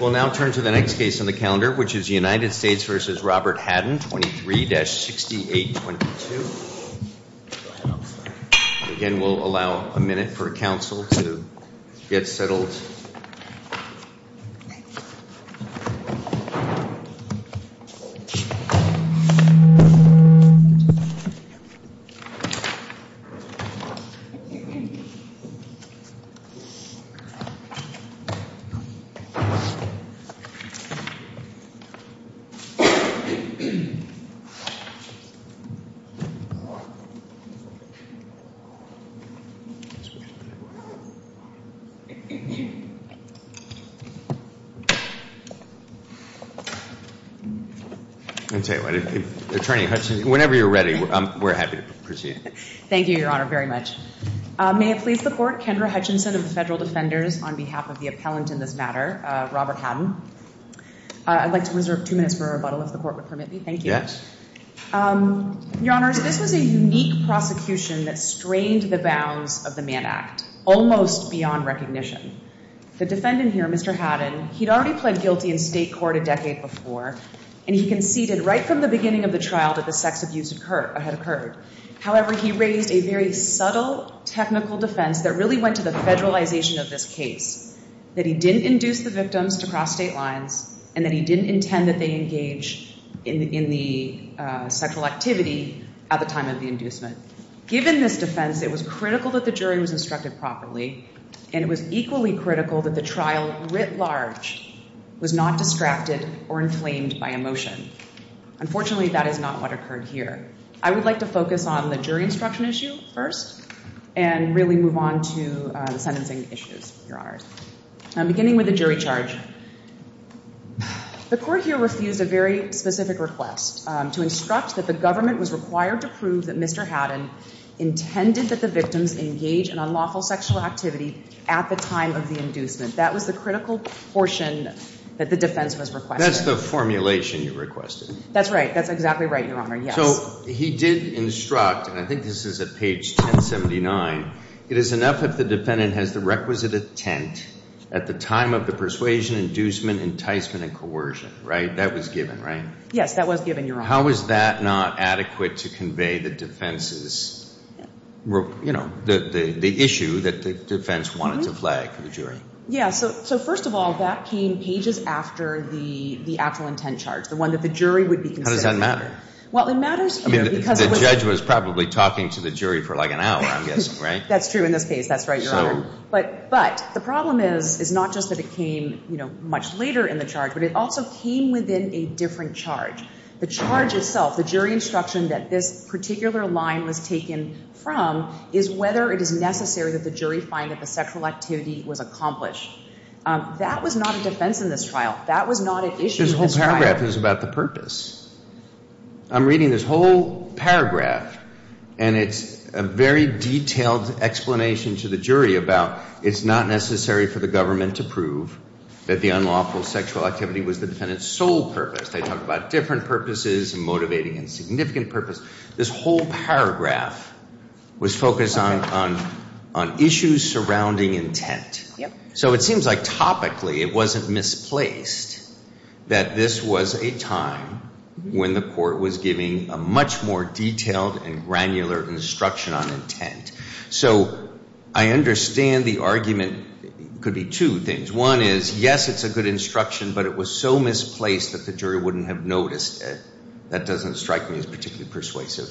We'll now turn to the next case on the calendar, which is United States v. Robert Hadden, 23-6822. Again, we'll allow a minute for counsel to get settled. Attorney Hutchinson, whenever you're ready, we're happy to proceed. Thank you, Your Honor, very much. May it please the Court, Kendra Hutchinson of the Federal Defenders on behalf of the appellant in this matter, Robert Hadden. I'd like to reserve two minutes for rebuttal, if the Court would permit me. Thank you. Your Honors, this was a unique prosecution that strained the bounds of the Mann Act, almost beyond recognition. The defendant here, Mr. Hadden, he'd already pled guilty in state court a decade before, and he conceded right from the beginning of the trial that the sex abuse had occurred. However, he raised a very subtle technical defense that really went to the federalization of this case, that he didn't induce the victims to cross state lines and that he didn't intend that they engage in the sexual activity at the time of the inducement. Given this defense, it was critical that the jury was instructed properly, and it was equally critical that the trial, writ large, was not distracted or inflamed by emotion. Unfortunately, that is not what occurred here. I would like to focus on the jury instruction issue first and really move on to the sentencing issues, Your Honors. Beginning with the jury charge, the Court here refused a very specific request to instruct that the government was required to prove that Mr. Hadden intended that the victims engage in unlawful sexual activity at the time of the inducement. That was the critical portion that the defense was requesting. That's the formulation you requested. That's right. That's exactly right, Your Honor, yes. So he did instruct, and I think this is at page 1079, it is enough if the defendant has the requisite intent at the time of the persuasion, inducement, enticement, and coercion, right? That was given, right? Yes, that was given, Your Honor. How was that not adequate to convey the defense's, you know, the issue that the defense wanted to flag for the jury? Yes. So first of all, that came pages after the actual intent charge, the one that the jury would be considering. How does that matter? The judge was probably talking to the jury for like an hour, I'm guessing, right? That's true in this case. That's right, Your Honor. But the problem is not just that it came much later in the charge, but it also came within a different charge. The charge itself, the jury instruction that this particular line was taken from is whether it is necessary that the jury find that the sexual activity was accomplished. That was not a defense in this trial. That was not an issue in this trial. This whole paragraph is about the purpose. I'm reading this whole paragraph, and it's a very detailed explanation to the jury about it's not necessary for the government to prove that the unlawful sexual activity was the defendant's sole purpose. They talk about different purposes and motivating and significant purposes. This whole paragraph was focused on issues surrounding intent. So it seems like topically it wasn't misplaced that this was a time when the court was giving a much more detailed and granular instruction on intent. So I understand the argument could be two things. One is, yes, it's a good instruction, but it was so misplaced that the jury wouldn't have noticed it. That doesn't strike me as particularly persuasive.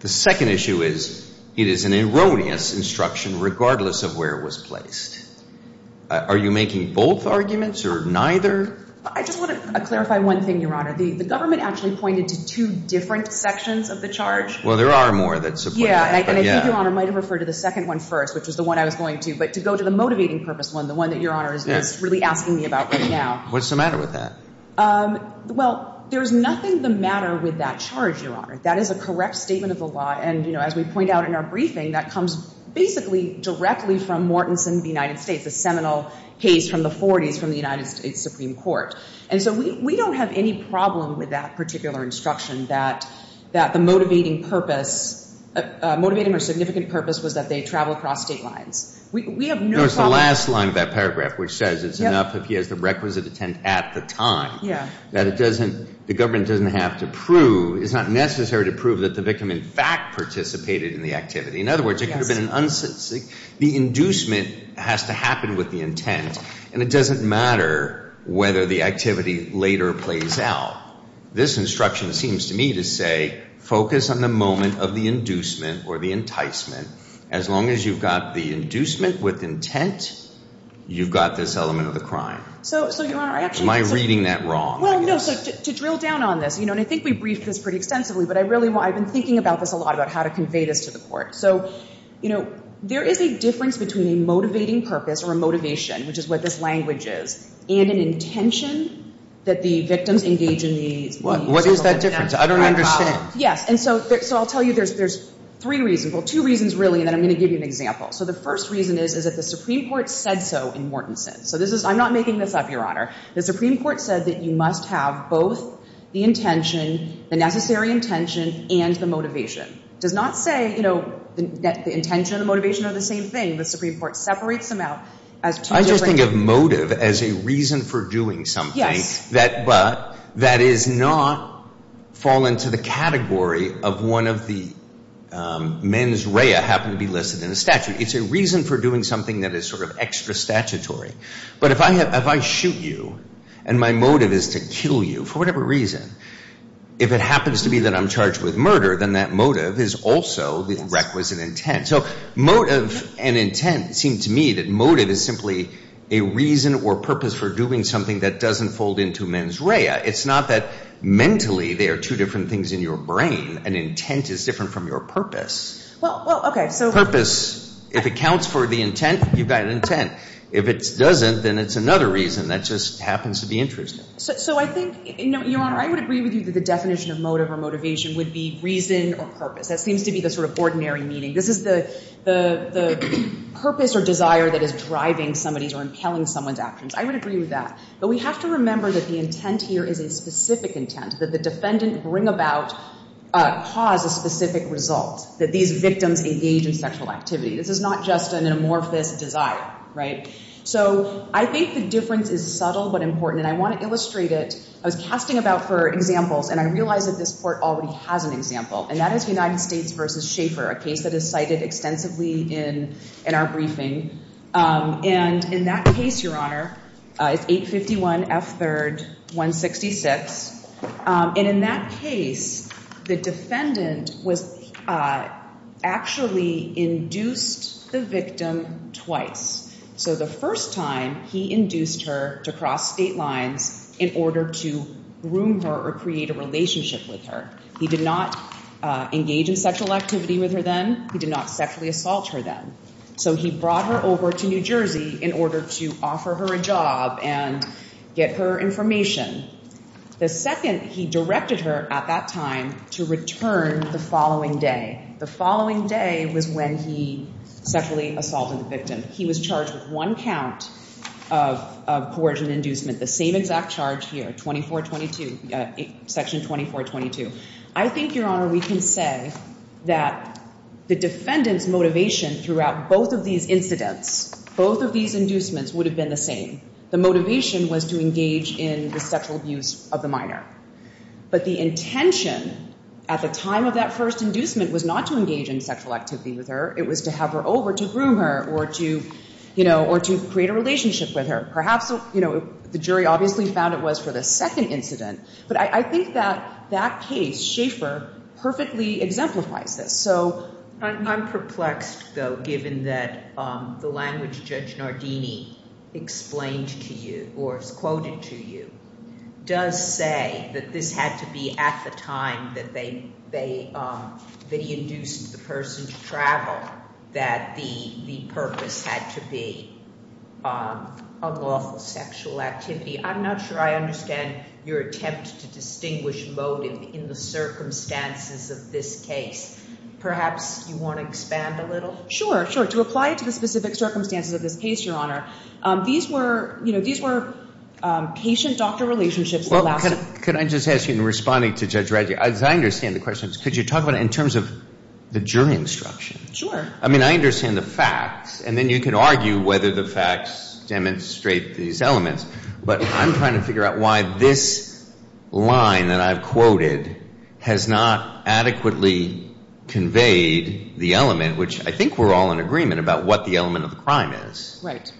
The second issue is it is an erroneous instruction regardless of where it was placed. Are you making both arguments or neither? I just want to clarify one thing, Your Honor. The government actually pointed to two different sections of the charge. Well, there are more that support that. I think Your Honor might have referred to the second one first, which is the one I was going to. But to go to the motivating purpose one, the one that Your Honor is really asking me about right now. What's the matter with that? Well, there's nothing the matter with that charge, Your Honor. That is a correct statement of the law. And as we point out in our briefing, that comes basically directly from Mortensen of the United States, a seminal case from the 40s from the United States Supreme Court. And so we don't have any problem with that particular instruction that the motivating purpose, motivating or significant purpose was that they travel across state lines. We have no problem. There's the last line of that paragraph which says it's enough if he has the requisite intent at the time. That it doesn't, the government doesn't have to prove, it's not necessary to prove that the victim in fact participated in the activity. In other words, it could have been an unsubstantial, the inducement has to happen with the intent. And it doesn't matter whether the activity later plays out. This instruction seems to me to say focus on the moment of the inducement or the enticement. As long as you've got the inducement with intent, you've got this element of the crime. Am I reading that wrong? Well, no. So to drill down on this, you know, and I think we briefed this pretty extensively, but I really want, I've been thinking about this a lot about how to convey this to the court. So, you know, there is a difference between a motivating purpose or a motivation, which is what this language is, and an intention that the victims engage in these. What is that difference? I don't know. The first reason is that the Supreme Court said so in Mortenson. I'm not making this up, Your Honor. The Supreme Court said that you must have both the intention, the necessary intention, and the motivation. It does not say that the intention and the motivation are the same thing. The Supreme Court separates them out. I just think of motive as a reason for doing something, but that is not fall into the category of one of the mens rea happened to be listed in the statute. It's a reason for doing something that is sort of extra statutory. But if I shoot you and my motive is to kill you for whatever reason, if it happens to be that I'm charged with murder, then that motive is also the requisite intent. So motive and intent seem to me that motive is simply a reason or purpose for doing something that doesn't fold into mens rea. It's not that mentally they are two different things in your brain. An intent is different from your purpose. If it counts for the intent, you've got intent. If it doesn't, then it's another reason. That just happens to be interesting. So I think, Your Honor, I would agree with you that the definition of motive or motivation would be reason or purpose. That seems to be the sort of ordinary meaning. This is the purpose or desire that is driving somebody's or impelling someone's actions. I would agree with that. But we have to remember that the intent here is a specific intent. That the defendant bring about, cause a specific result. That these victims engage in sexual activity. This is not just an amorphous desire. So I think the difference is subtle but important. And I want to illustrate it. I was casting about for examples and I realized that this court already has an example. And that is United States v. Schaeffer, a case that is cited extensively in our briefing. And in that case, Your Honor, it's 851 F. 3rd 166. And in that case, the defendant was actually induced the victim twice. So the first time, he induced her to cross state lines in order to groom her or create a relationship with her. He did not engage in sexual activity with her then. He did not sexually assault her then. So he brought her over to New Jersey in order to offer her a job and get her information. The second, he directed her at that time to return the following day. The following day was when he sexually assaulted the victim. He was charged with one count of coercion inducement. The same exact charge here, 2422, section 2422. I think, Your Honor, we can say that the defendant's motivation throughout both of these incidents, both of these inducements would have been the same. The motivation was to engage in the sexual abuse of the minor. But the intention at the time of that first inducement was not to engage in sexual activity with her. It was to have her over to groom her or to create a relationship with her. Perhaps the jury obviously found it was for the second incident. But I think that that case, Schaeffer, perfectly exemplifies that. So I'm perplexed, though, given that the language Judge Nardini explained to you or quoted to you does say that this had to be at the time that he induced the person to travel, that the purpose had to be unlawful sexual activity. I'm not sure I understand your attempt to distinguish motive in the circumstances of this case. Perhaps you want to expand a little? Sure, sure. To apply it to the specific circumstances of this case, Your Honor, these were patient-doctor relationships that lasted. Well, could I just ask you, in responding to Judge Radley, as I understand the question, could you talk about it in terms of the jury instruction? Sure. I mean, I understand the facts, and then you can argue whether the facts demonstrate these elements. But I'm trying to figure out why this line that I've quoted has not adequately conveyed the element, which I think we're all in agreement about what the element of the crime is. Right.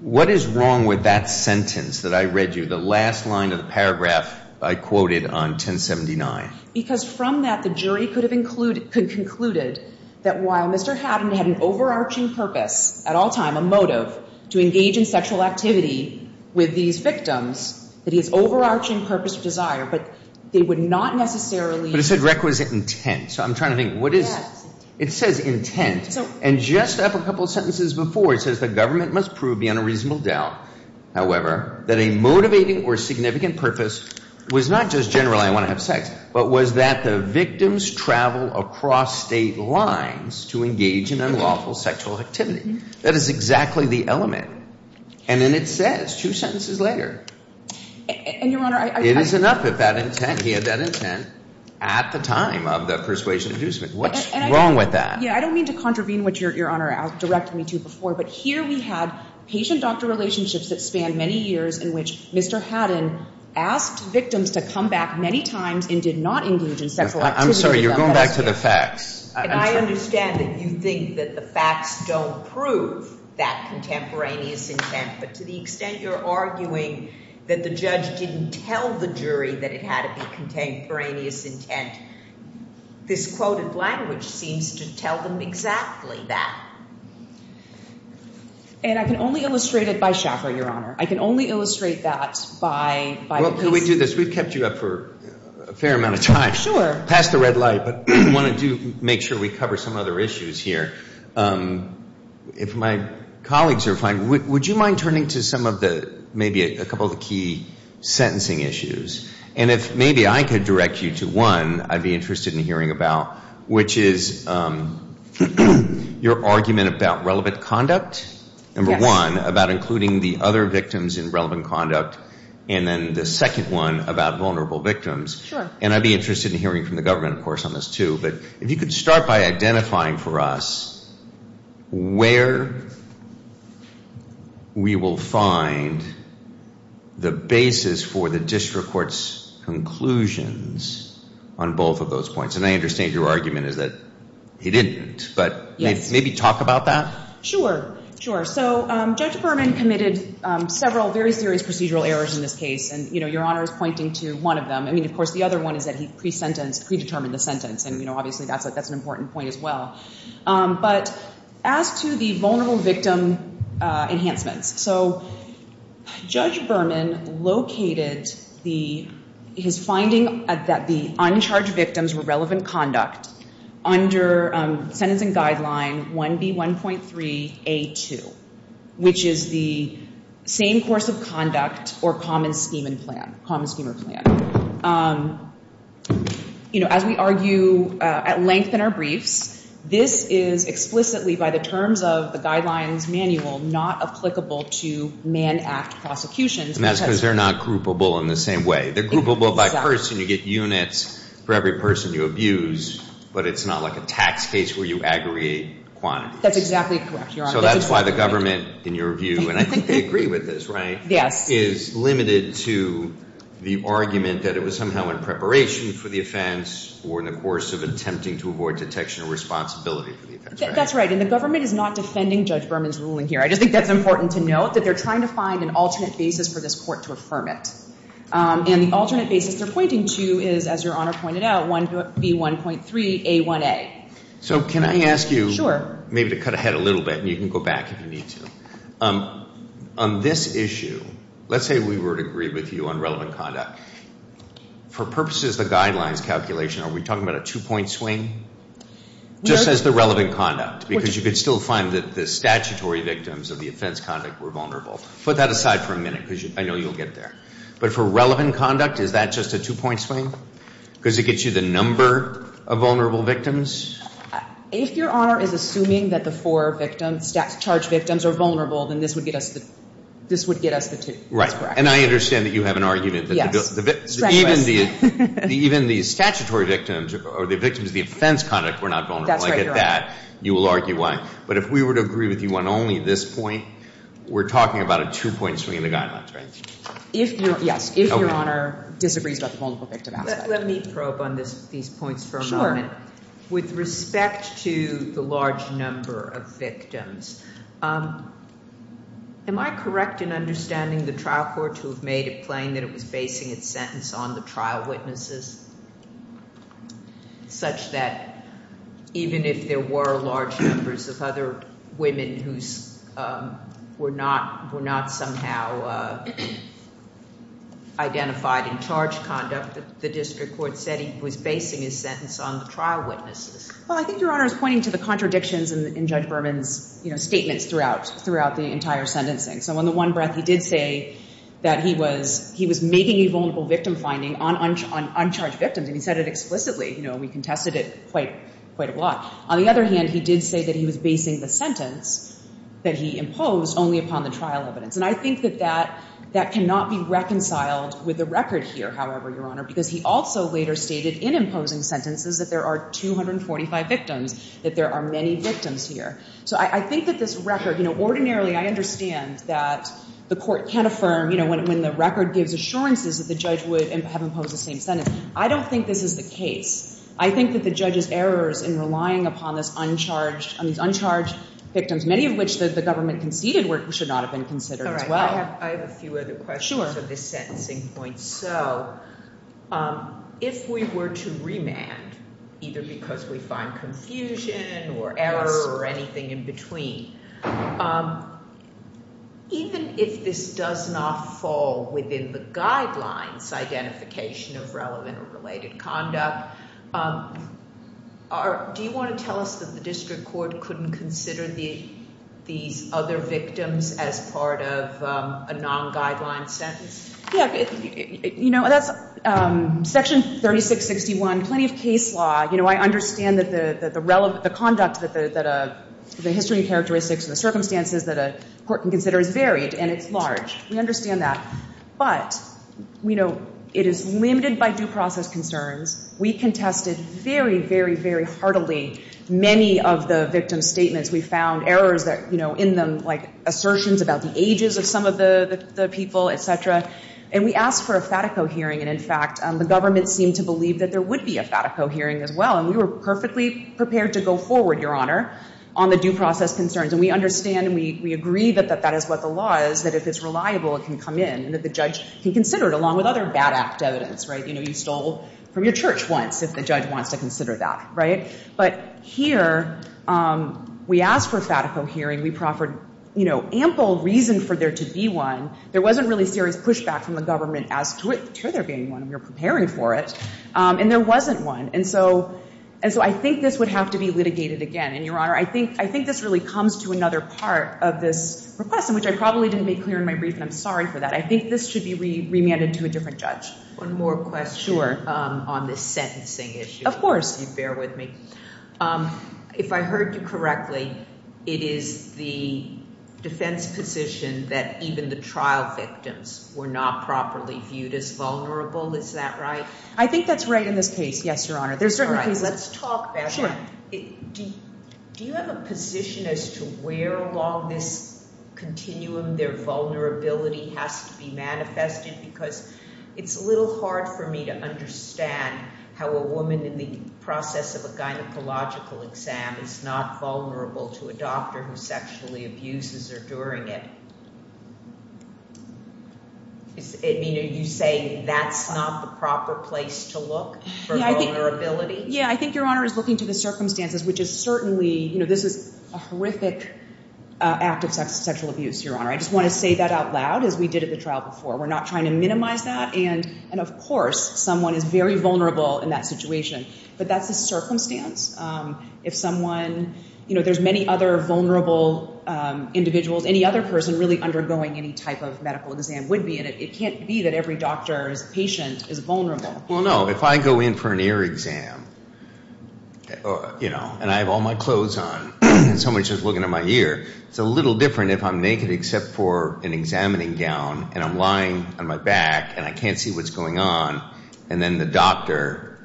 What is wrong with that sentence that I read you, the last line of the paragraph I quoted on 1079? Because from that, the jury could have concluded that while Mr. Haddon had an overarching purpose at all times, a motive to engage in sexual activity with these victims, that his overarching purpose or desire, but they would not necessarily... But it said requisite intent. So I'm trying to think, what is... It says intent. And just up a couple sentences before, it says the government must prove beyond a reasonable doubt, however, that a motivating or significant purpose was not just generally I want to have sex, but was that the victims travel across state lines to engage in unlawful sexual activity. That is exactly the element. And then it says, two sentences later... And, Your Honor, I... It is enough if that intent, he had that intent at the time of the persuasion inducement. What's wrong with that? I don't mean to contravene what Your Honor directed me to before, but here we have patient-doctor relationships that span many years in which Mr. Haddon asked victims to come back many times and did not engage in sexual activity... I'm sorry, you're going back to the facts. I understand that you think that the facts don't prove that contemporaneous intent, but to the extent you're arguing that the judge didn't tell the jury that it had to be contemporaneous intent, this quoted language seems to tell them exactly that. And I can only illustrate it by chakra, Your Honor. I can only illustrate that by... Well, can we do this? We've kept you up for a fair amount of time. Sure. Past the red light, but I wanted to make sure we cover some other issues here. If my colleagues are fine, would you mind turning to some of the, maybe a couple of the key sentencing issues? And if maybe I could direct you to one I'd be interested in hearing about, which is your argument about relevant conduct, number one, about including the other victims in relevant conduct, and then the second one about vulnerable victims. Sure. And I'd be interested in hearing from the government, of course, on this too, but if you could start by identifying for us where we will find the basis for the district court's conclusions on both of those points. And I understand your argument is that he didn't, but maybe talk about that. Sure. So Judge Berman committed several very serious procedural errors in this case, and Your Honor is pointing to one of them. I mean, of course, the other one is that he predetermined the sentence, and obviously that's an important point as well. But as to the vulnerable victim enhancements, so Judge Berman located his finding that the uncharged victims were relevant conduct under Sentencing Guideline 1B1.3A2, which is the same course of conduct or common scheme or plan. You know, as we argue at length in our briefs, this is explicitly by the terms of the Guidelines Manual not applicable to manned act prosecutions. And that's because they're not groupable in the same way. They're groupable by person. You get units for every person you abuse, but it's not like a tax case where you aggregate every person you abuse, and you have to pay a tax on every person you abuse. And that's why the government, in your view, and I think they agree with this, right, is limited to the argument that it was somehow in preparation for the offense or in the course of attempting to avoid detection or responsibility for the offense. That's right. And the government is not defending Judge Berman's ruling here. I just think that's important to note, that they're trying to find an alternate basis for this court to affirm it. And the alternate basis they're pointing to is, as Your Honor pointed out, 1B1.3A1A. So can I ask you maybe to cut ahead a little bit, and you can go back if you need to. On this issue, let's say we were to agree with you on relevant conduct. For purposes of the Guidelines calculation, are we talking about a two-point swing? Just as the relevant conduct, because you could still find that the statutory victims of the offense conduct were vulnerable. Put that aside for a minute, because I know you'll get there. But for relevant conduct, is that just a two-point swing? Because it gets you the number of vulnerable victims? If Your Honor is assuming that the four victims, charged victims, are vulnerable, then this would get us the two. Right. And I understand that you have an argument that even the statutory victims or the victims of the offense conduct were not vulnerable. I get that. You will argue why. But if we were to agree with you on only this point, we're talking about a two-point swing in the Guidelines, right? Yes, if Your Honor disagrees about the vulnerable victim aspect. Let me probe on these points for a moment. With respect to the large number of victims, am I correct in understanding the trial court to have made it plain that it was basing its sentence on the trial witnesses, such that even if there were large numbers of other women who were not somehow identified in charge conduct, the district court said it was basing its sentence on the trial witnesses? Well, I think Your Honor is pointing to the contradictions in Judge Berman's statements throughout the entire sentencing. So in the one breath, he did say that he was making a vulnerable victim finding on uncharged victims, and he said it explicitly. We contested it quite a lot. On the other hand, he did say that he was basing the sentence that he imposed only upon the trial evidence. And I think that that cannot be reconciled with the record here, however, Your Honor, because he also later stated in imposing sentences that there are 245 victims, that there are many victims here. So I think that this record, ordinarily I understand that the court can't affirm when the record gives assurances that the judge would have imposed the same sentence. I don't think this is the case. I think that the judge's errors in relying upon these uncharged victims, many of which the government conceded should not have been considered as well. I have a few other questions on this sentencing point. So if we were to remand, either because we find confusion or error or anything in between, even if this does not fall within the guidelines identification of relevant or related conduct, do you want to tell us that the district court couldn't consider these other victims as part of a non-guideline sentence? Yeah. You know, that's Section 3661, plenty of case law. You know, I understand that the conduct, that the history and characteristics and the circumstances that a court can consider is varied, and it's large. We understand that. But, you know, it is limited by due process concerns. We contested very, very, very heartily many of the victims' statements. We found errors that, you know, in them, like assertions about the ages of some of the people, et cetera. And we asked for a FATICO hearing. And, in fact, the government seemed to believe that there would be a FATICO hearing as well. And we were perfectly prepared to go forward, Your Honor, on the due process concerns. And we understand and we agree that that is what the law is, that if it's reliable, it can come in, and that the judge can consider it, along with other bad act evidence, right? You know, you stole from your church once if the judge wants to consider that, right? But here we asked for a FATICO hearing. We proffered, you know, ample reason for there to be one. There wasn't really serious pushback from the government as to there being one. We were preparing for it. And there wasn't one. And so I think this would have to be litigated again. And, Your Honor, I think this really comes to another part of this request, which I probably didn't make clear in my brief, and I'm sorry for that. I think this should be remanded to a different judge. One more question on this sentencing issue. Of course. If you bear with me. If I heard you correctly, it is the defense position that even the trial court has to consider. Let's talk about that. Do you have a position as to where along this continuum their vulnerability has to be manifested? Because it's a little hard for me to understand how a woman in the process of a gynecological exam is not vulnerable to a doctor who sexually abuses her during it. You say that's not the proper place to look for vulnerability? Yeah, I think Your Honor is looking to the circumstances, which is certainly, you know, this is a horrific act of sexual abuse, Your Honor. I just want to say that out loud, as we did at the trial before. We're not trying to minimize that. And, of course, someone is very vulnerable in that situation. But that's a circumstance. If someone, you know, there's many other vulnerable individuals. Any other person really undergoing any type of medical exam would be. And it can't be that every doctor's patient is vulnerable. Well, no. If I go in for an ear exam, you know, and I have all my clothes on and someone's just looking at my ear, it's a little different if I'm naked except for an examining gown and I'm lying on my back and I can't see what's going on. And then the doctor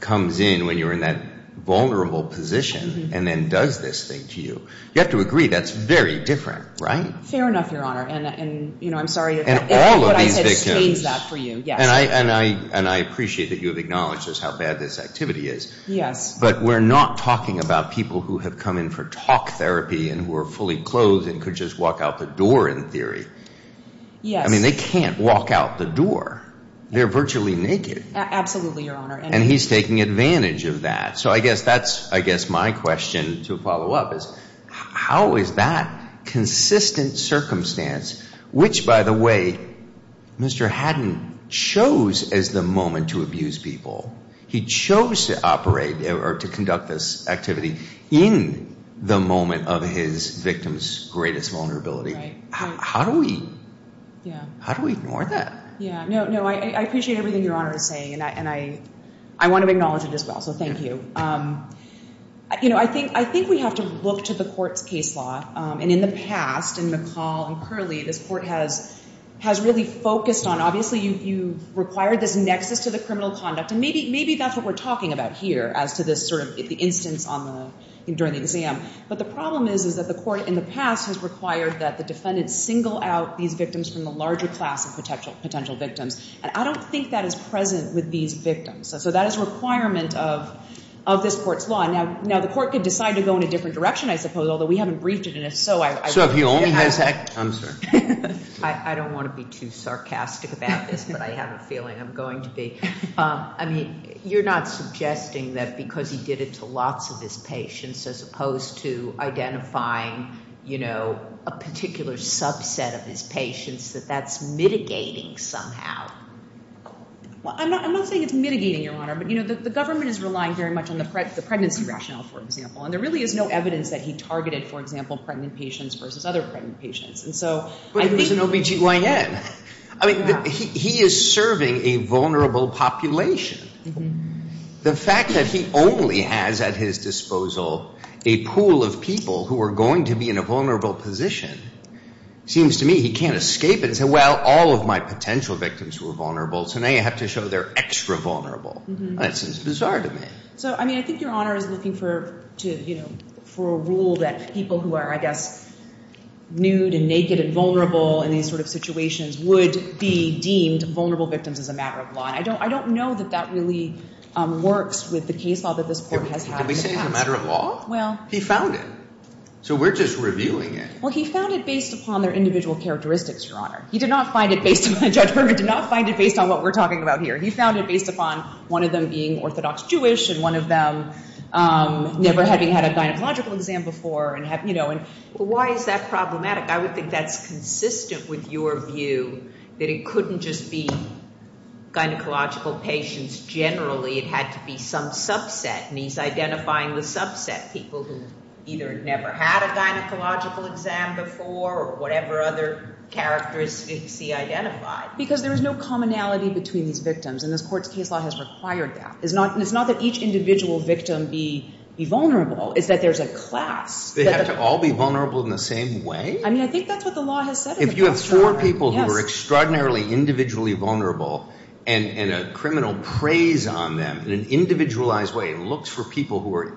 comes in when you're in that vulnerable position and then does this thing to you. You have to agree that's very different, right? Fair enough, Your Honor. And, you know, I'm sorry if what I said stains that for you. And I appreciate that you have acknowledged just how bad this activity is. But we're not talking about people who have come in for talk therapy and who are fully clothed and could just walk out the door in theory. Yes. I mean, they can't walk out the door. They're virtually naked. Absolutely, Your Honor. And he's taking advantage of that. So I guess that's I guess my question to follow up is how is that consistent circumstance, which, by the way, Mr. Haddon chose as the moment to abuse people. He chose to operate or to conduct this activity in the moment of his victim's greatest vulnerability. How do we how do we ignore that? No, I appreciate everything Your Honor is saying. And I want to acknowledge it as well. So thank you. You know, I think I think we have to look to the court's case law. And in the past, in McCall and Curley, this court has has really focused on obviously you require this nexus to the criminal conduct. And maybe maybe that's what we're talking about here as to this sort of instance on the during the exam. But the problem is, is that the court in the past has required that the defendants single out these victims from the larger class of potential potential victims. And I don't think that is present with these victims. So that is a requirement of this court's law. Now, now the court could decide to go in a different direction, I suppose, although we haven't breached it. And if so, I. I don't want to be too sarcastic about this, but I have a feeling I'm going to be. I mean, you're not suggesting that because he did it to lots of his patients as opposed to identifying, you know, a particular subset of his patients, that that's mitigating somehow. Well, I'm not I'm not saying it's mitigating your honor, but, you know, the government is relying very much on the the pregnancy rationale, for example. And there really is no evidence that he targeted, for example, pregnant patients versus other patients. And so there's an OBGYN. I mean, he is serving a vulnerable population. The fact that he only has at his disposal a pool of people who are going to be in a vulnerable position seems to me he can't escape it. Well, all of my potential victims were vulnerable, so now you have to show they're extra vulnerable. It's bizarre to me. So, I mean, I think your honor is looking for to, you know, for a rule that people who are, I guess, nude and naked and vulnerable in these sort of situations would be deemed vulnerable victims as a matter of law. I don't I don't know that that really works with the case law that this court has. Well, he found it. So we're just reviewing it. Well, he found it based upon their individual characteristics. Your honor, he did not find it based on the judge. We did not find it based on what we're talking about here. He found it based upon one of them being Orthodox Jewish and one of them never having had a gynecological exam before. And, you know, and why is that problematic? I would think that's consistent with your view that it couldn't just be identifying the subset people who either never had a gynecological exam before or whatever other characteristics he identified. Because there is no commonality between these victims. And this court's case law has required that. It's not that each individual victim be vulnerable. It's that there's a class. They have to all be vulnerable in the same way? I mean, I think that's what the law has said. If you have four people who are extraordinarily individually vulnerable and a criminal preys on them in an individualized way and looks for people who are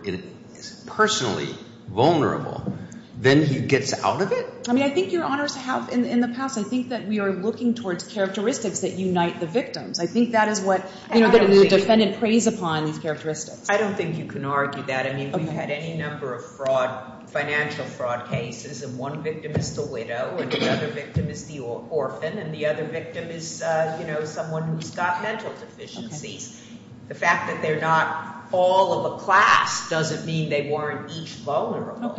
personally vulnerable, then he gets out of it? I mean, I think your honors have in the past. I think that we are looking towards characteristics that unite the victims. I think that is what the defendant preys upon these characteristics. I don't think you can argue that. I mean, we've had any number of fraud, financial fraud cases, and one victim is the widow and the other victim is the orphan. And the other victim is, you know, someone who's got mental deficiencies. The fact that they're not all of a class doesn't mean they weren't each vulnerable.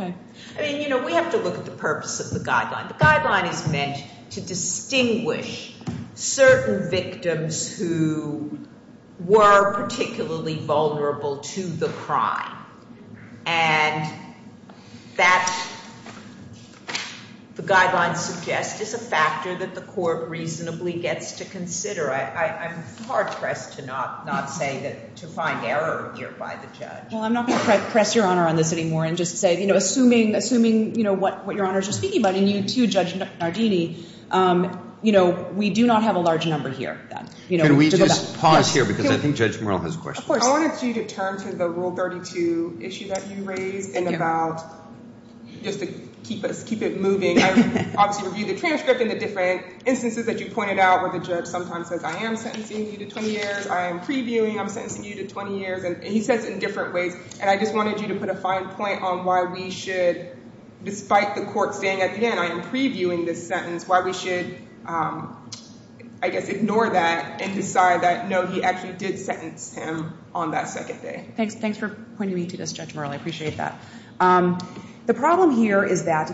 I mean, you know, we have to look at the purpose of the guideline. The guideline is meant to distinguish certain victims who were particularly vulnerable to the crime. And that the guidelines suggest is a factor that the court reasonably gets to consider. I'm hard-pressed to not say that to find error here by the judge. Well, I'm not going to press your honor on this anymore and just say, you know, assuming what your honors are speaking about, and you too, Judge Nardini, you know, we do not have a large number here. Can we just pause here, because I think Judge Murrell has a question. I wanted you to turn to the Rule 32 issue that you raised, just to keep it moving. I obviously reviewed the transcript and the different instances that you pointed out where the judge sometimes says, I am sentencing you to 20 years, I am previewing, I'm sentencing you to 20 years, and he says it in different ways. And I just wanted you to put a fine point on why we should, despite the court staying at the end, I am previewing this sentence, why we should, I guess, ignore that and decide that, no, he actually did sentence him on that second day. Thanks for pointing me to this, Judge Murrell. I appreciate that. The problem here is that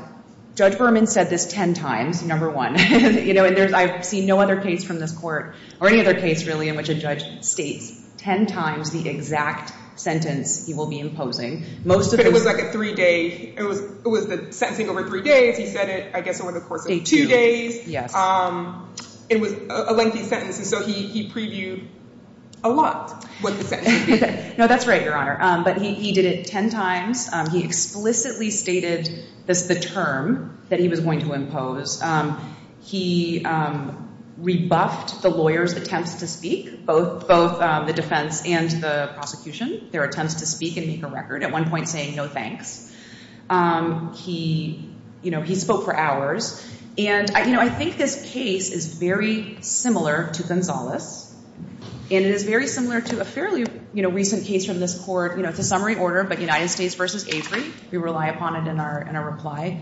Judge Berman said this 10 times, number one. I've seen no other case from this court, or any other case, really, in which a judge states 10 times the exact sentence he will be imposing. But it was like a three-day, it was the sentencing over three days, he said it, I guess, over the course of two days. It was a lengthy sentence, and so he previewed a lot. No, that's right, Your Honor. But he did it 10 times. He explicitly stated the term that he was going to impose. He rebuffed the lawyer's attempts to speak, both the defense and the prosecution, their attempts to speak and make a record, at one point saying no thanks. He spoke for hours. I think this case is very similar to Gonzales, and it is very similar to a fairly recent case from this court. It's a summary order, but United States v. Avery. We rely upon it in our reply.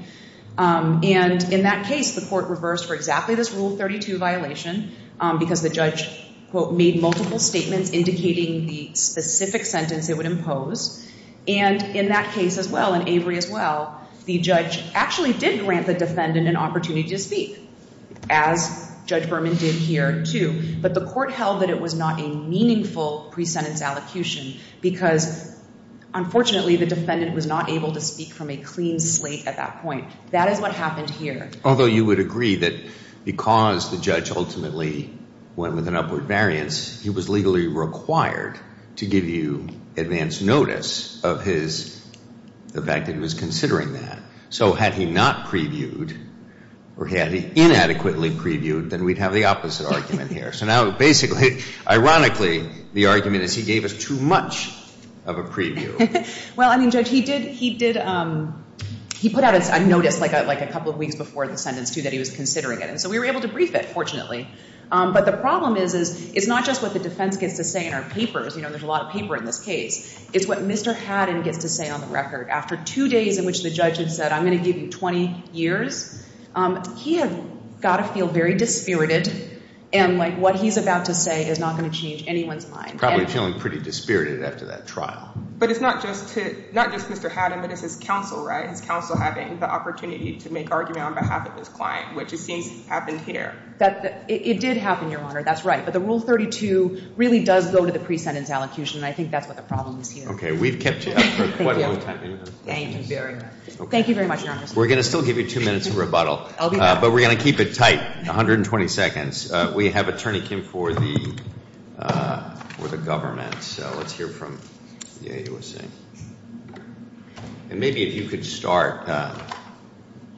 In that case, the court reversed for exactly this Rule 32 violation because the judge, quote, made multiple statements indicating the specific sentence it would impose. And in that case as well, in Avery as well, the judge actually did grant the defendant an opportunity to speak, as Judge Berman did here, too. But the court held that it was not a meaningful pre-sentence allocution because, unfortunately, the defendant was not able to speak from a clean slate at that point. That is what happened here. Although you would agree that because the judge ultimately went with an upward variance, he was legally required to give you advance notice of his, the fact that he was considering that. So had he not previewed, or had he inadequately previewed, then we'd have the opposite argument here. So now, basically, ironically, the argument is he gave us too much of a preview. Well, I mean, Judge, he did, he did, he put out a notice like a couple of weeks before the sentence, too, that he was considering it. And so we were able to brief it, fortunately. But the problem is, is it's not just what the defense gets to say in our papers. You know, there's a lot of paper in this case. It's what Mr. Haddon gets to say on the record. After two days in which the judge had said, I'm going to give you 20 years, he had got to feel very dispirited. And, like, what he's about to say is not going to change anyone's mind. He's probably feeling pretty dispirited after that trial. But it's not just to, not just Mr. Haddon, but it's his counsel, right? His counsel having the opportunity to make argument on behalf of his client, which it seems happened here. It did happen, Your Honor, that's right. But the Rule 32 really does go to the pre-sentence allocution, and I think that's what the problem is here. Okay, we've kept you up for quite a long time. Thank you very much. Thank you very much, Your Honor. We're going to still give you two minutes of rebuttal. I'll be back. But we're going to keep it tight, 120 seconds. We have Attorney Kim for the government. So let's hear from the AUSA. And maybe if you could start,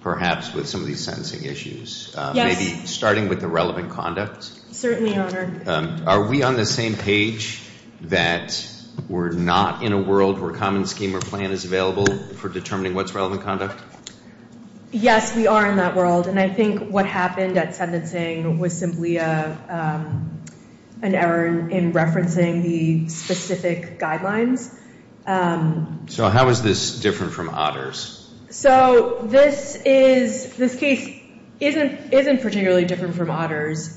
perhaps, with some of these sentencing issues. Yes. Maybe starting with the relevant conduct. Certainly, Your Honor. Are we on the same page that we're not in a world where a common scheme or plan is available for determining what's relevant conduct? Yes, we are in that world. And I think what happened at sentencing was simply an error in referencing the specific guidelines. So how is this different from Otters? So this case isn't particularly different from Otters.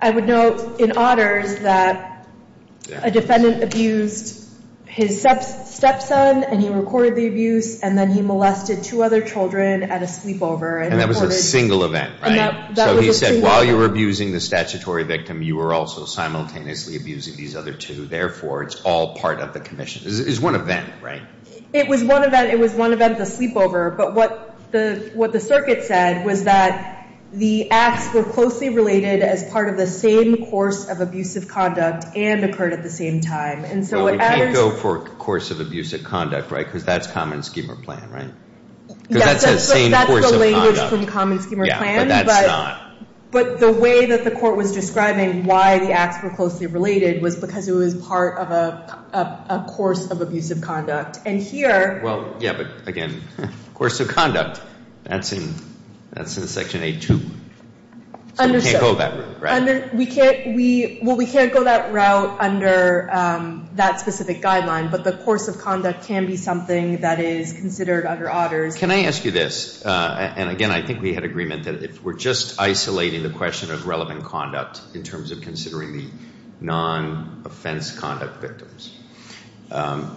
I would note in Otters that a defendant abused his stepson, and he recorded the abuse, and then he molested two other children at a sleepover. And that was a single event, right? So he said while you were abusing the statutory victim, you were also simultaneously abusing these other two. Therefore, it's all part of the commission. It's one event, right? It was one event. It was one event at the sleepover. But what the circuit said was that the acts were closely related as part of the same course of abusive conduct and occurred at the same time. Well, we can't go for course of abusive conduct, right? Because that's common scheme or plan, right? Because that's the same course of conduct. That's the language from common scheme or plan. Yeah, but that's not. But the way that the court was describing why the acts were closely related was because it was part of a course of abusive conduct. And here. Well, yeah, but again, course of conduct, that's in Section 8-2. So we can't go that route, right? We can't go that route under that specific guideline, but the course of conduct can be something that is considered under Otters. Can I ask you this? And, again, I think we had agreement that if we're just isolating the question of relevant conduct in terms of considering the non-offense conduct victims,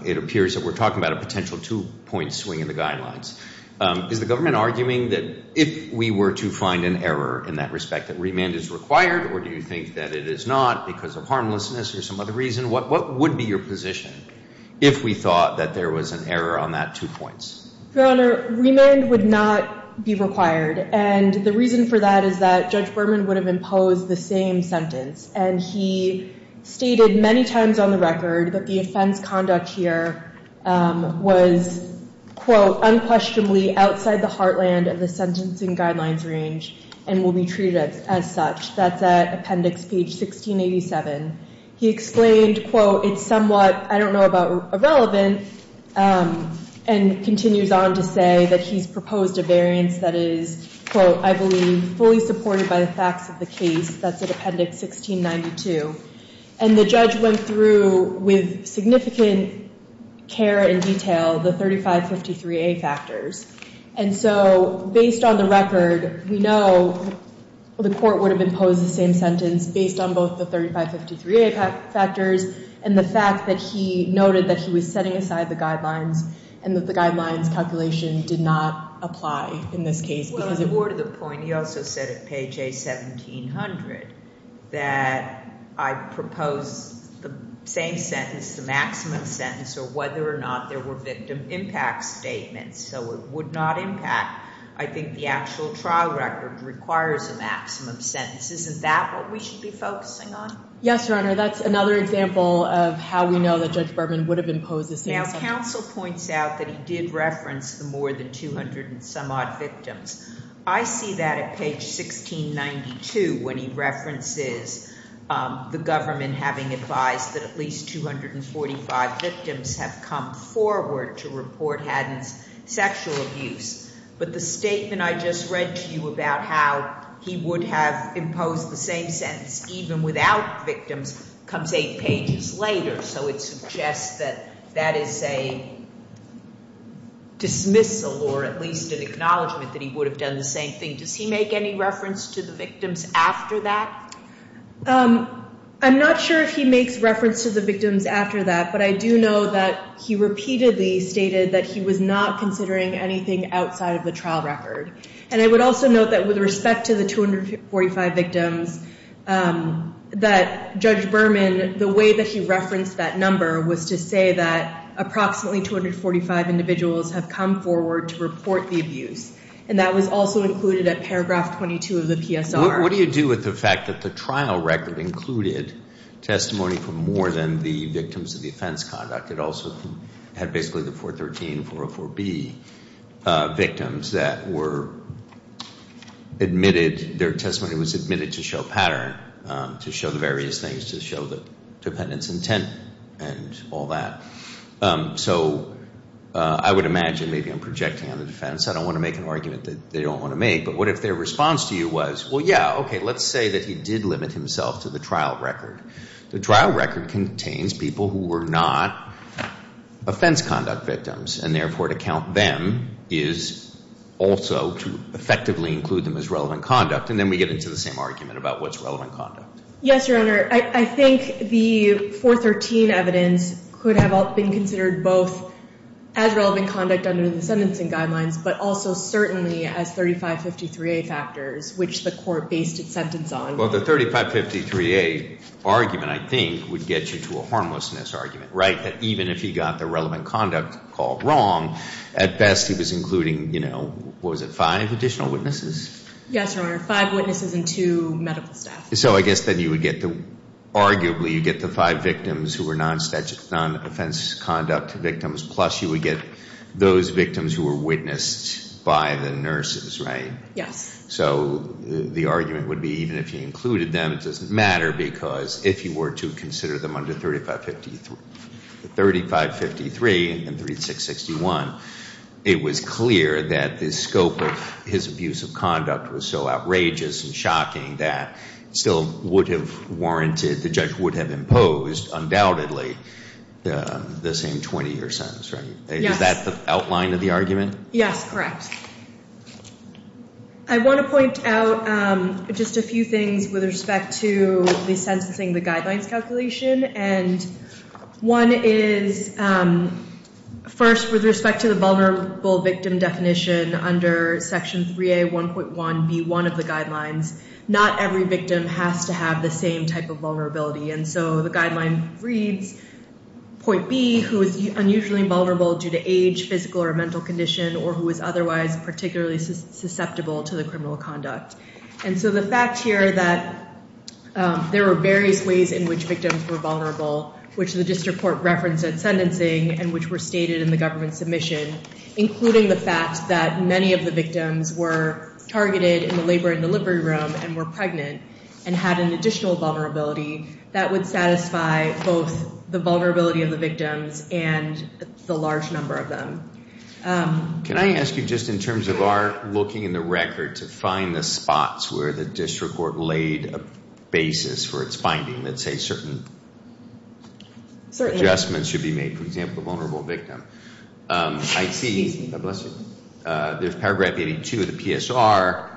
it appears that we're talking about a potential two-point swing in the guidelines. Is the government arguing that if we were to find an error in that respect, that remand is required, or do you think that it is not because of harmlessness or some other reason? What would be your position if we thought that there was an error on that two points? Your Honor, remand would not be required. And the reason for that is that Judge Berman would have imposed the same sentence, and he stated many times on the record that the offense conduct here was, quote, unquestionably outside the heartland of the sentencing guidelines range and will be treated as such. That's at Appendix Page 1687. He explained, quote, it's somewhat, I don't know about irrelevant, and continues on to say that he's proposed a variance that is, quote, I believe fully supported by the facts of the case. That's at Appendix 1692. And the judge went through with significant care and detail the 3553A factors. And so based on the record, we know the court would have imposed the same sentence based on both the 3553A factors and the fact that he noted that he was setting aside the guidelines and that the guidelines calculation did not apply in this case. Well, as it were, to the point, he also said at Page A1700, that I propose the same sentence, the maximum sentence, or whether or not there were victim impact statements. So it would not impact. I think the actual trial record requires a maximum sentence. Isn't that what we should be focusing on? Yes, Your Honor. That's another example of how we know that Judge Berman would have imposed the same sentence. Now, counsel points out that he did reference the more than 200 and some odd victims. I see that at Page 1692 when he references the government having advised that at least 245 victims have come forward to report Haddon's sexual abuse. But the statement I just read to you about how he would have imposed the same sentence even without victims comes eight pages later. So it suggests that that is a dismissal or at least an acknowledgment that he would have done the same thing. Does he make any reference to the victims after that? I'm not sure if he makes reference to the victims after that. But I do know that he repeatedly stated that he was not considering anything outside of the trial record. And I would also note that with respect to the 245 victims, that Judge Berman, the way that he referenced that number was to say that approximately 245 individuals have come forward to report the abuse. And that was also included at Paragraph 22 of the PSR. What do you do with the fact that the trial record included testimony from more than the victims of defense conduct? It also had basically the 413, 404B victims that were admitted. Their testimony was admitted to show pattern, to show the various things, to show the defendant's intent and all that. So I would imagine maybe I'm projecting on the defense. I don't want to make an argument that they don't want to make. But what if their response to you was, well, yeah, okay, let's say that he did limit himself to the trial record. The trial record contains people who were not offense conduct victims, and therefore to count them is also to effectively include them as relevant conduct. And then we get into the same argument about what's relevant conduct. Yes, Your Honor. I think the 413 evidence could have been considered both as relevant conduct under the sentencing guidelines, but also certainly as 3553A factors, which the court based its sentence on. Well, the 3553A argument, I think, would get you to a harmlessness argument, right, that even if he got the relevant conduct called wrong, at best he was including, you know, what was it, five additional witnesses? Yes, Your Honor, five witnesses and two medical staff. So I guess then you would get the – arguably you'd get the five victims who were non-offense conduct victims, plus you would get those victims who were witnessed by the nurses, right? Yes. So the argument would be even if he included them, it doesn't matter, because if you were to consider them under 3553. The 3553 and 3661, it was clear that the scope of his abuse of conduct was so outrageous and shocking that it still would have warranted – the judge would have imposed, undoubtedly, the same 20-year sentence, right? Is that the outline of the argument? Yes, correct. I want to point out just a few things with respect to the sentencing, the guidelines calculation. And one is, first, with respect to the vulnerable victim definition under Section 3A1.1B1 of the guidelines, not every victim has to have the same type of vulnerability. And so the guideline reads, point B, who is unusually vulnerable due to age, physical or mental condition, or who is otherwise particularly susceptible to the criminal conduct. And so the fact here that there are various ways in which victims were vulnerable, which the district court referenced at sentencing and which were stated in the government submission, including the fact that many of the victims were targeted in the labor and delivery room and were pregnant and had an additional vulnerability, that would satisfy both the vulnerability of the victims and the large number of them. Can I ask you, just in terms of our looking in the record, to find the spots where the district court laid a basis for its finding that say certain adjustments should be made? For example, the vulnerable victim. I see – God bless you – there's paragraph 82 of the PSR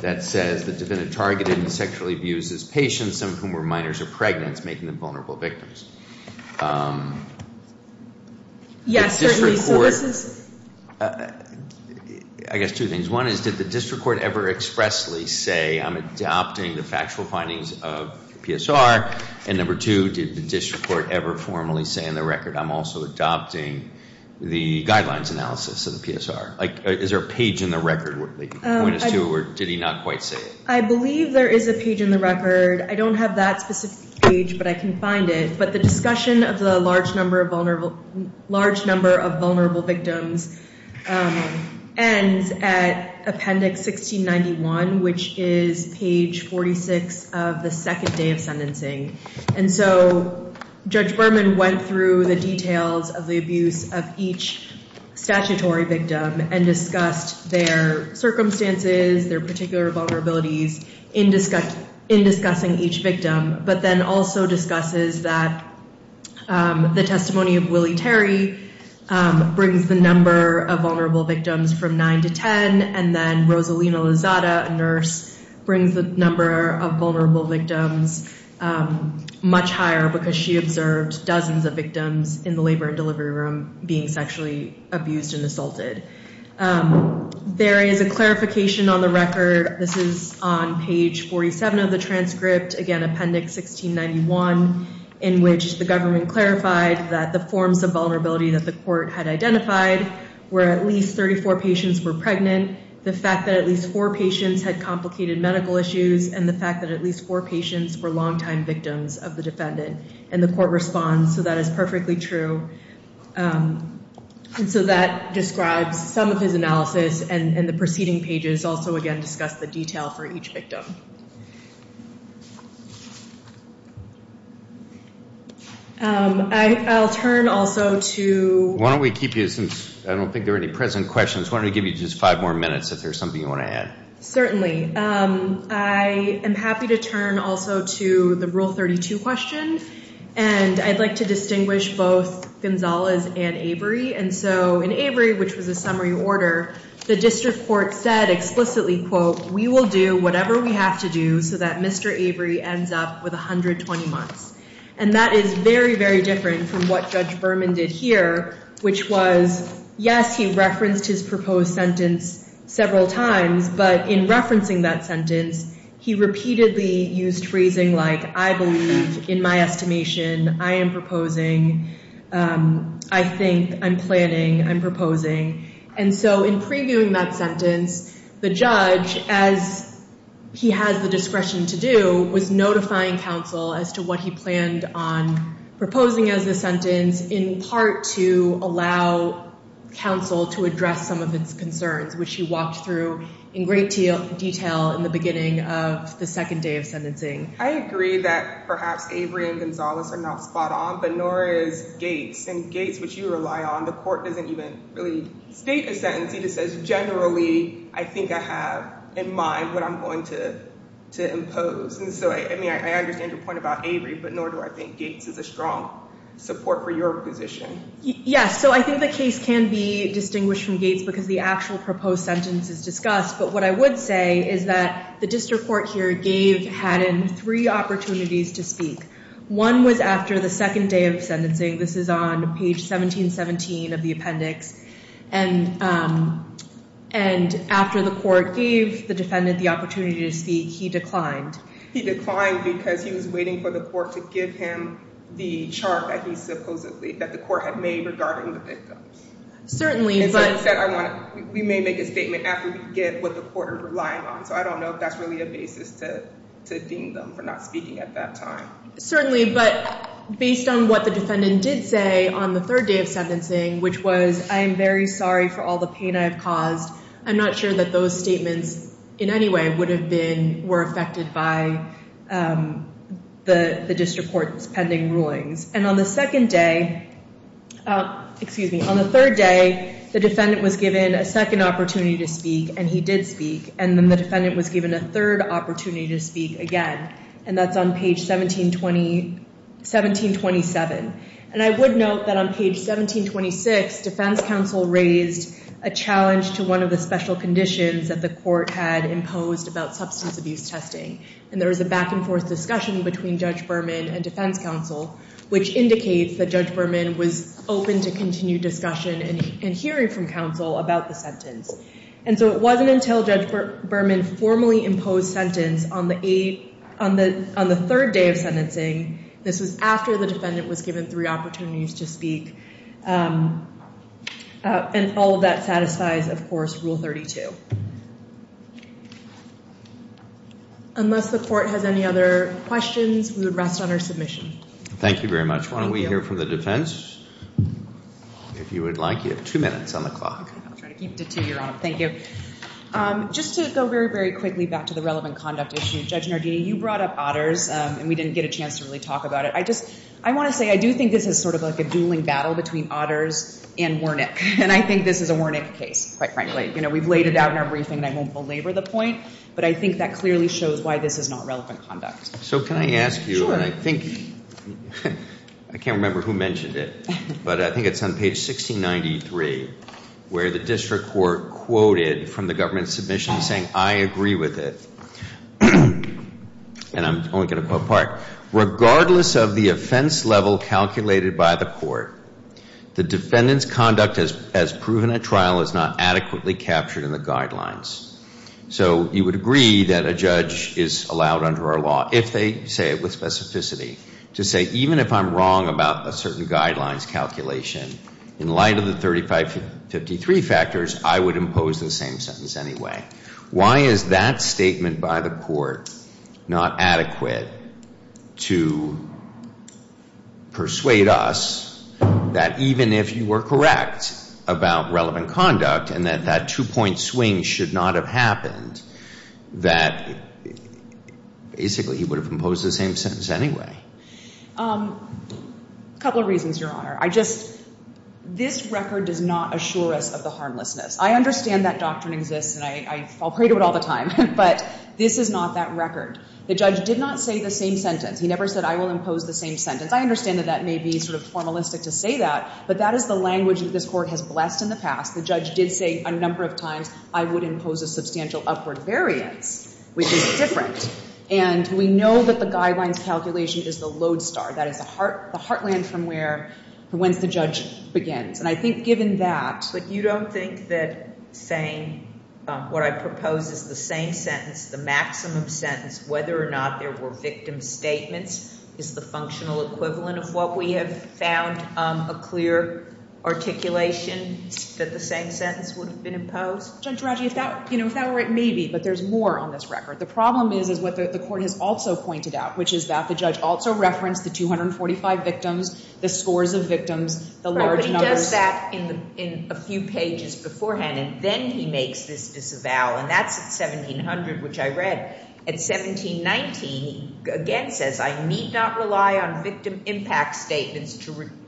that says, the defendant targeted and sexually abused his patients, some of whom were minors or pregnant, making them vulnerable victims. Yes, certainly. I guess two things. One is, did the district court ever expressly say, I'm adopting the factual findings of PSR? And number two, did the district court ever formally say in the record, I'm also adopting the guidelines analysis of the PSR? Like, is there a page in the record where they point us to, or did he not quite say it? I believe there is a page in the record. I don't have that specific page, but I can find it. But the discussion of the large number of vulnerable victims ends at appendix 1691, which is page 46 of the second day of sentencing. And so Judge Berman went through the details of the abuse of each statutory victim and discussed their circumstances, their particular vulnerabilities in discussing each victim, but then also discusses that the testimony of Willie Terry brings the number of vulnerable victims from 9 to 10, and then Rosalina Lozada, a nurse, brings the number of vulnerable victims much higher because she observed dozens of victims in the labor and delivery room being sexually abused and assaulted. There is a clarification on the record. This is on page 47 of the transcript, again, appendix 1691, in which the government clarified that the forms of vulnerability that the court had identified were at least 34 patients were pregnant, the fact that at least four patients had complicated medical issues, and the fact that at least four patients were longtime victims of the defendant. And the court responds, so that is perfectly true. And so that describes some of his analysis, and the preceding pages also, again, discuss the detail for each victim. I'll turn also to— Why don't we keep you, since I don't think there are any present questions, why don't we give you just five more minutes if there's something you want to add. Certainly. I am happy to turn also to the Rule 32 question, and I'd like to distinguish both Gonzalez and Avery. And so in Avery, which was a summary order, the district court said explicitly, quote, we will do whatever we have to do so that Mr. Avery ends up with 120 months. And that is very, very different from what Judge Berman did here, which was, yes, he referenced his proposed sentence several times, but in referencing that sentence, he repeatedly used phrasing like, I believe in my estimation, I am proposing, I think, I'm planning, I'm proposing. And so in previewing that sentence, the judge, as he had the discretion to do, was notifying counsel as to what he planned on proposing as the sentence, in part to allow counsel to address some of its concerns, which he walked through in great detail in the beginning of the second day of sentencing. I agree that perhaps Avery and Gonzalez are not spot on, but nor is Gates. And Gates, which you rely on, the court doesn't even really state a sentence. I think I have in mind what I'm going to impose. And so, I mean, I understand your point about Avery, but nor do I think Gates is a strong support for your position. Yes, so I think the case can be distinguished from Gates because the actual proposed sentence is discussed. But what I would say is that the district court here gave Haddon three opportunities to speak. One was after the second day of sentencing. This is on page 1717 of the appendix. And after the court gave the defendant the opportunity to speak, he declined. He declined because he was waiting for the court to give him the chart that he supposedly— that the court had made regarding the victims. Certainly, but— And so instead, we may make a statement after we get what the court is relying on. So I don't know if that's really a basis to deem them for not speaking at that time. Certainly, but based on what the defendant did say on the third day of sentencing, which was, I am very sorry for all the pain I have caused, I'm not sure that those statements in any way would have been— were affected by the district court's pending rulings. And on the second day—excuse me. On the third day, the defendant was given a second opportunity to speak, and he did speak. And then the defendant was given a third opportunity to speak again, and that's on page 1727. And I would note that on page 1726, defense counsel raised a challenge to one of the special conditions that the court had imposed about substance abuse testing. And there was a back-and-forth discussion between Judge Berman and defense counsel, which indicates that Judge Berman was open to continued discussion and hearing from counsel about the sentence. And so it wasn't until Judge Berman formally imposed sentence on the third day of sentencing— the defendant was given three opportunities to speak— and all of that satisfies, of course, Rule 32. Unless the court has any other questions, we would rest on our submission. Thank you very much. Thank you. Why don't we hear from the defense, if you would like. You have two minutes on the clock. I'll try to keep to two, Your Honor. Thank you. Just to go very, very quickly back to the relevant conduct issue, Judge Nardini, you brought up Otters, and we didn't get a chance to really talk about it. I want to say I do think this is sort of like a dueling battle between Otters and Wernick, and I think this is a Wernick case, quite frankly. We've laid it out in our briefing, and I won't belabor the point, but I think that clearly shows why this is not relevant conduct. So can I ask you— I can't remember who mentioned it, but I think it's on page 1693, where the district court quoted from the government submission saying, Yes, I agree with it, and I'm only going to quote part. Regardless of the offense level calculated by the court, the defendant's conduct as proven at trial is not adequately captured in the guidelines. So you would agree that a judge is allowed under our law, if they say it with specificity, to say even if I'm wrong about a certain guidelines calculation, in light of the 3553 factors, I would impose the same sentence anyway. Why is that statement by the court not adequate to persuade us that even if you were correct about relevant conduct and that that two-point swing should not have happened, that basically he would have imposed the same sentence anyway? A couple of reasons, Your Honor. I just—this record does not assure us of the harmlessness. I understand that doctrine exists, and I fall prey to it all the time, but this is not that record. The judge did not say the same sentence. He never said I will impose the same sentence. I understand that that may be sort of formalistic to say that, but that is the language that this Court has blessed in the past. The judge did say a number of times I would impose a substantial upward variance, which is different. And we know that the guidelines calculation is the lodestar. That is the heartland from whence the judge begins. And I think given that— But you don't think that saying what I propose is the same sentence, the maximum sentence, whether or not there were victim statements, is the functional equivalent of what we have found, a clear articulation that the same sentence would have been imposed? Judge Radji, if that were it, maybe. But there's more on this record. The problem is what the Court has also pointed out, which is that the judge also referenced the 245 victims, the scores of victims, the large numbers. But he does that in a few pages beforehand, and then he makes this disavow, and that's at 1700, which I read. At 1719, he again says, I need not rely on victim impact statements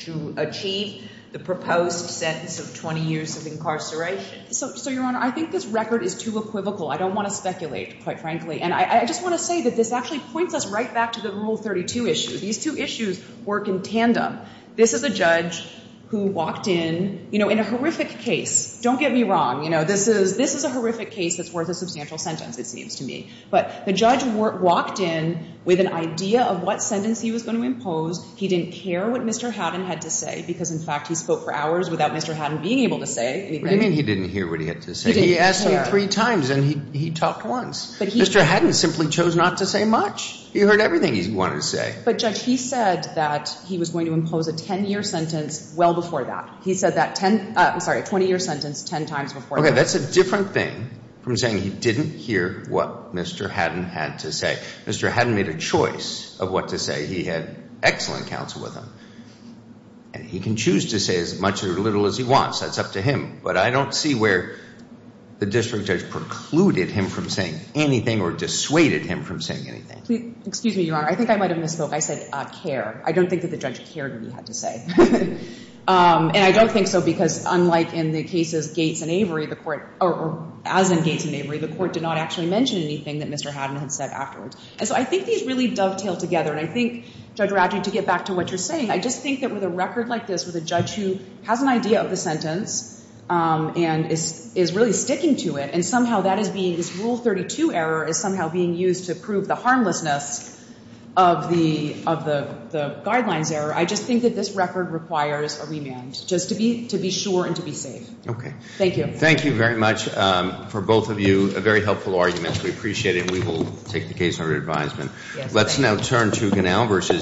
to achieve the proposed sentence of 20 years of incarceration. So, Your Honor, I think this record is too equivocal. I don't want to speculate, quite frankly. And I just want to say that this actually points us right back to the Rule 32 issue. These two issues work in tandem. This is a judge who walked in, you know, in a horrific case. Don't get me wrong. You know, this is a horrific case that's worth a substantial sentence, it seems to me. But the judge walked in with an idea of what sentence he was going to impose. He didn't care what Mr. Haddon had to say, because, in fact, he spoke for hours without Mr. Haddon being able to say anything. What do you mean he didn't hear what he had to say? He asked him three times, and he talked once. Mr. Haddon simply chose not to say much. He heard everything he wanted to say. But, Judge, he said that he was going to impose a 10-year sentence well before that. He said that 20-year sentence 10 times before that. Okay, that's a different thing from saying he didn't hear what Mr. Haddon had to say. Mr. Haddon made a choice of what to say. He had excellent counsel with him. And he can choose to say as much or as little as he wants. That's up to him. But I don't see where the district judge precluded him from saying anything or dissuaded him from saying anything. Excuse me, Your Honor. I think I might have misspoke. I said care. I don't think that the judge cared what he had to say. And I don't think so because, unlike in the cases Gates and Avery, the court or as in Gates and Avery, the court did not actually mention anything that Mr. Haddon had said afterwards. And so I think these really dovetail together. And I think, Judge Rafferty, to get back to what you're saying, I just think that with a record like this, with a judge who has an idea of the sentence and is really sticking to it, and somehow that is being, this Rule 32 error is somehow being used to prove the harmlessness of the guidelines error, I just think that this record requires a remand, just to be sure and to be safe. Okay. Thank you. Thank you very much. For both of you, a very helpful argument. We appreciate it. We will take the case under advisement. Let's now turn to Ganell versus.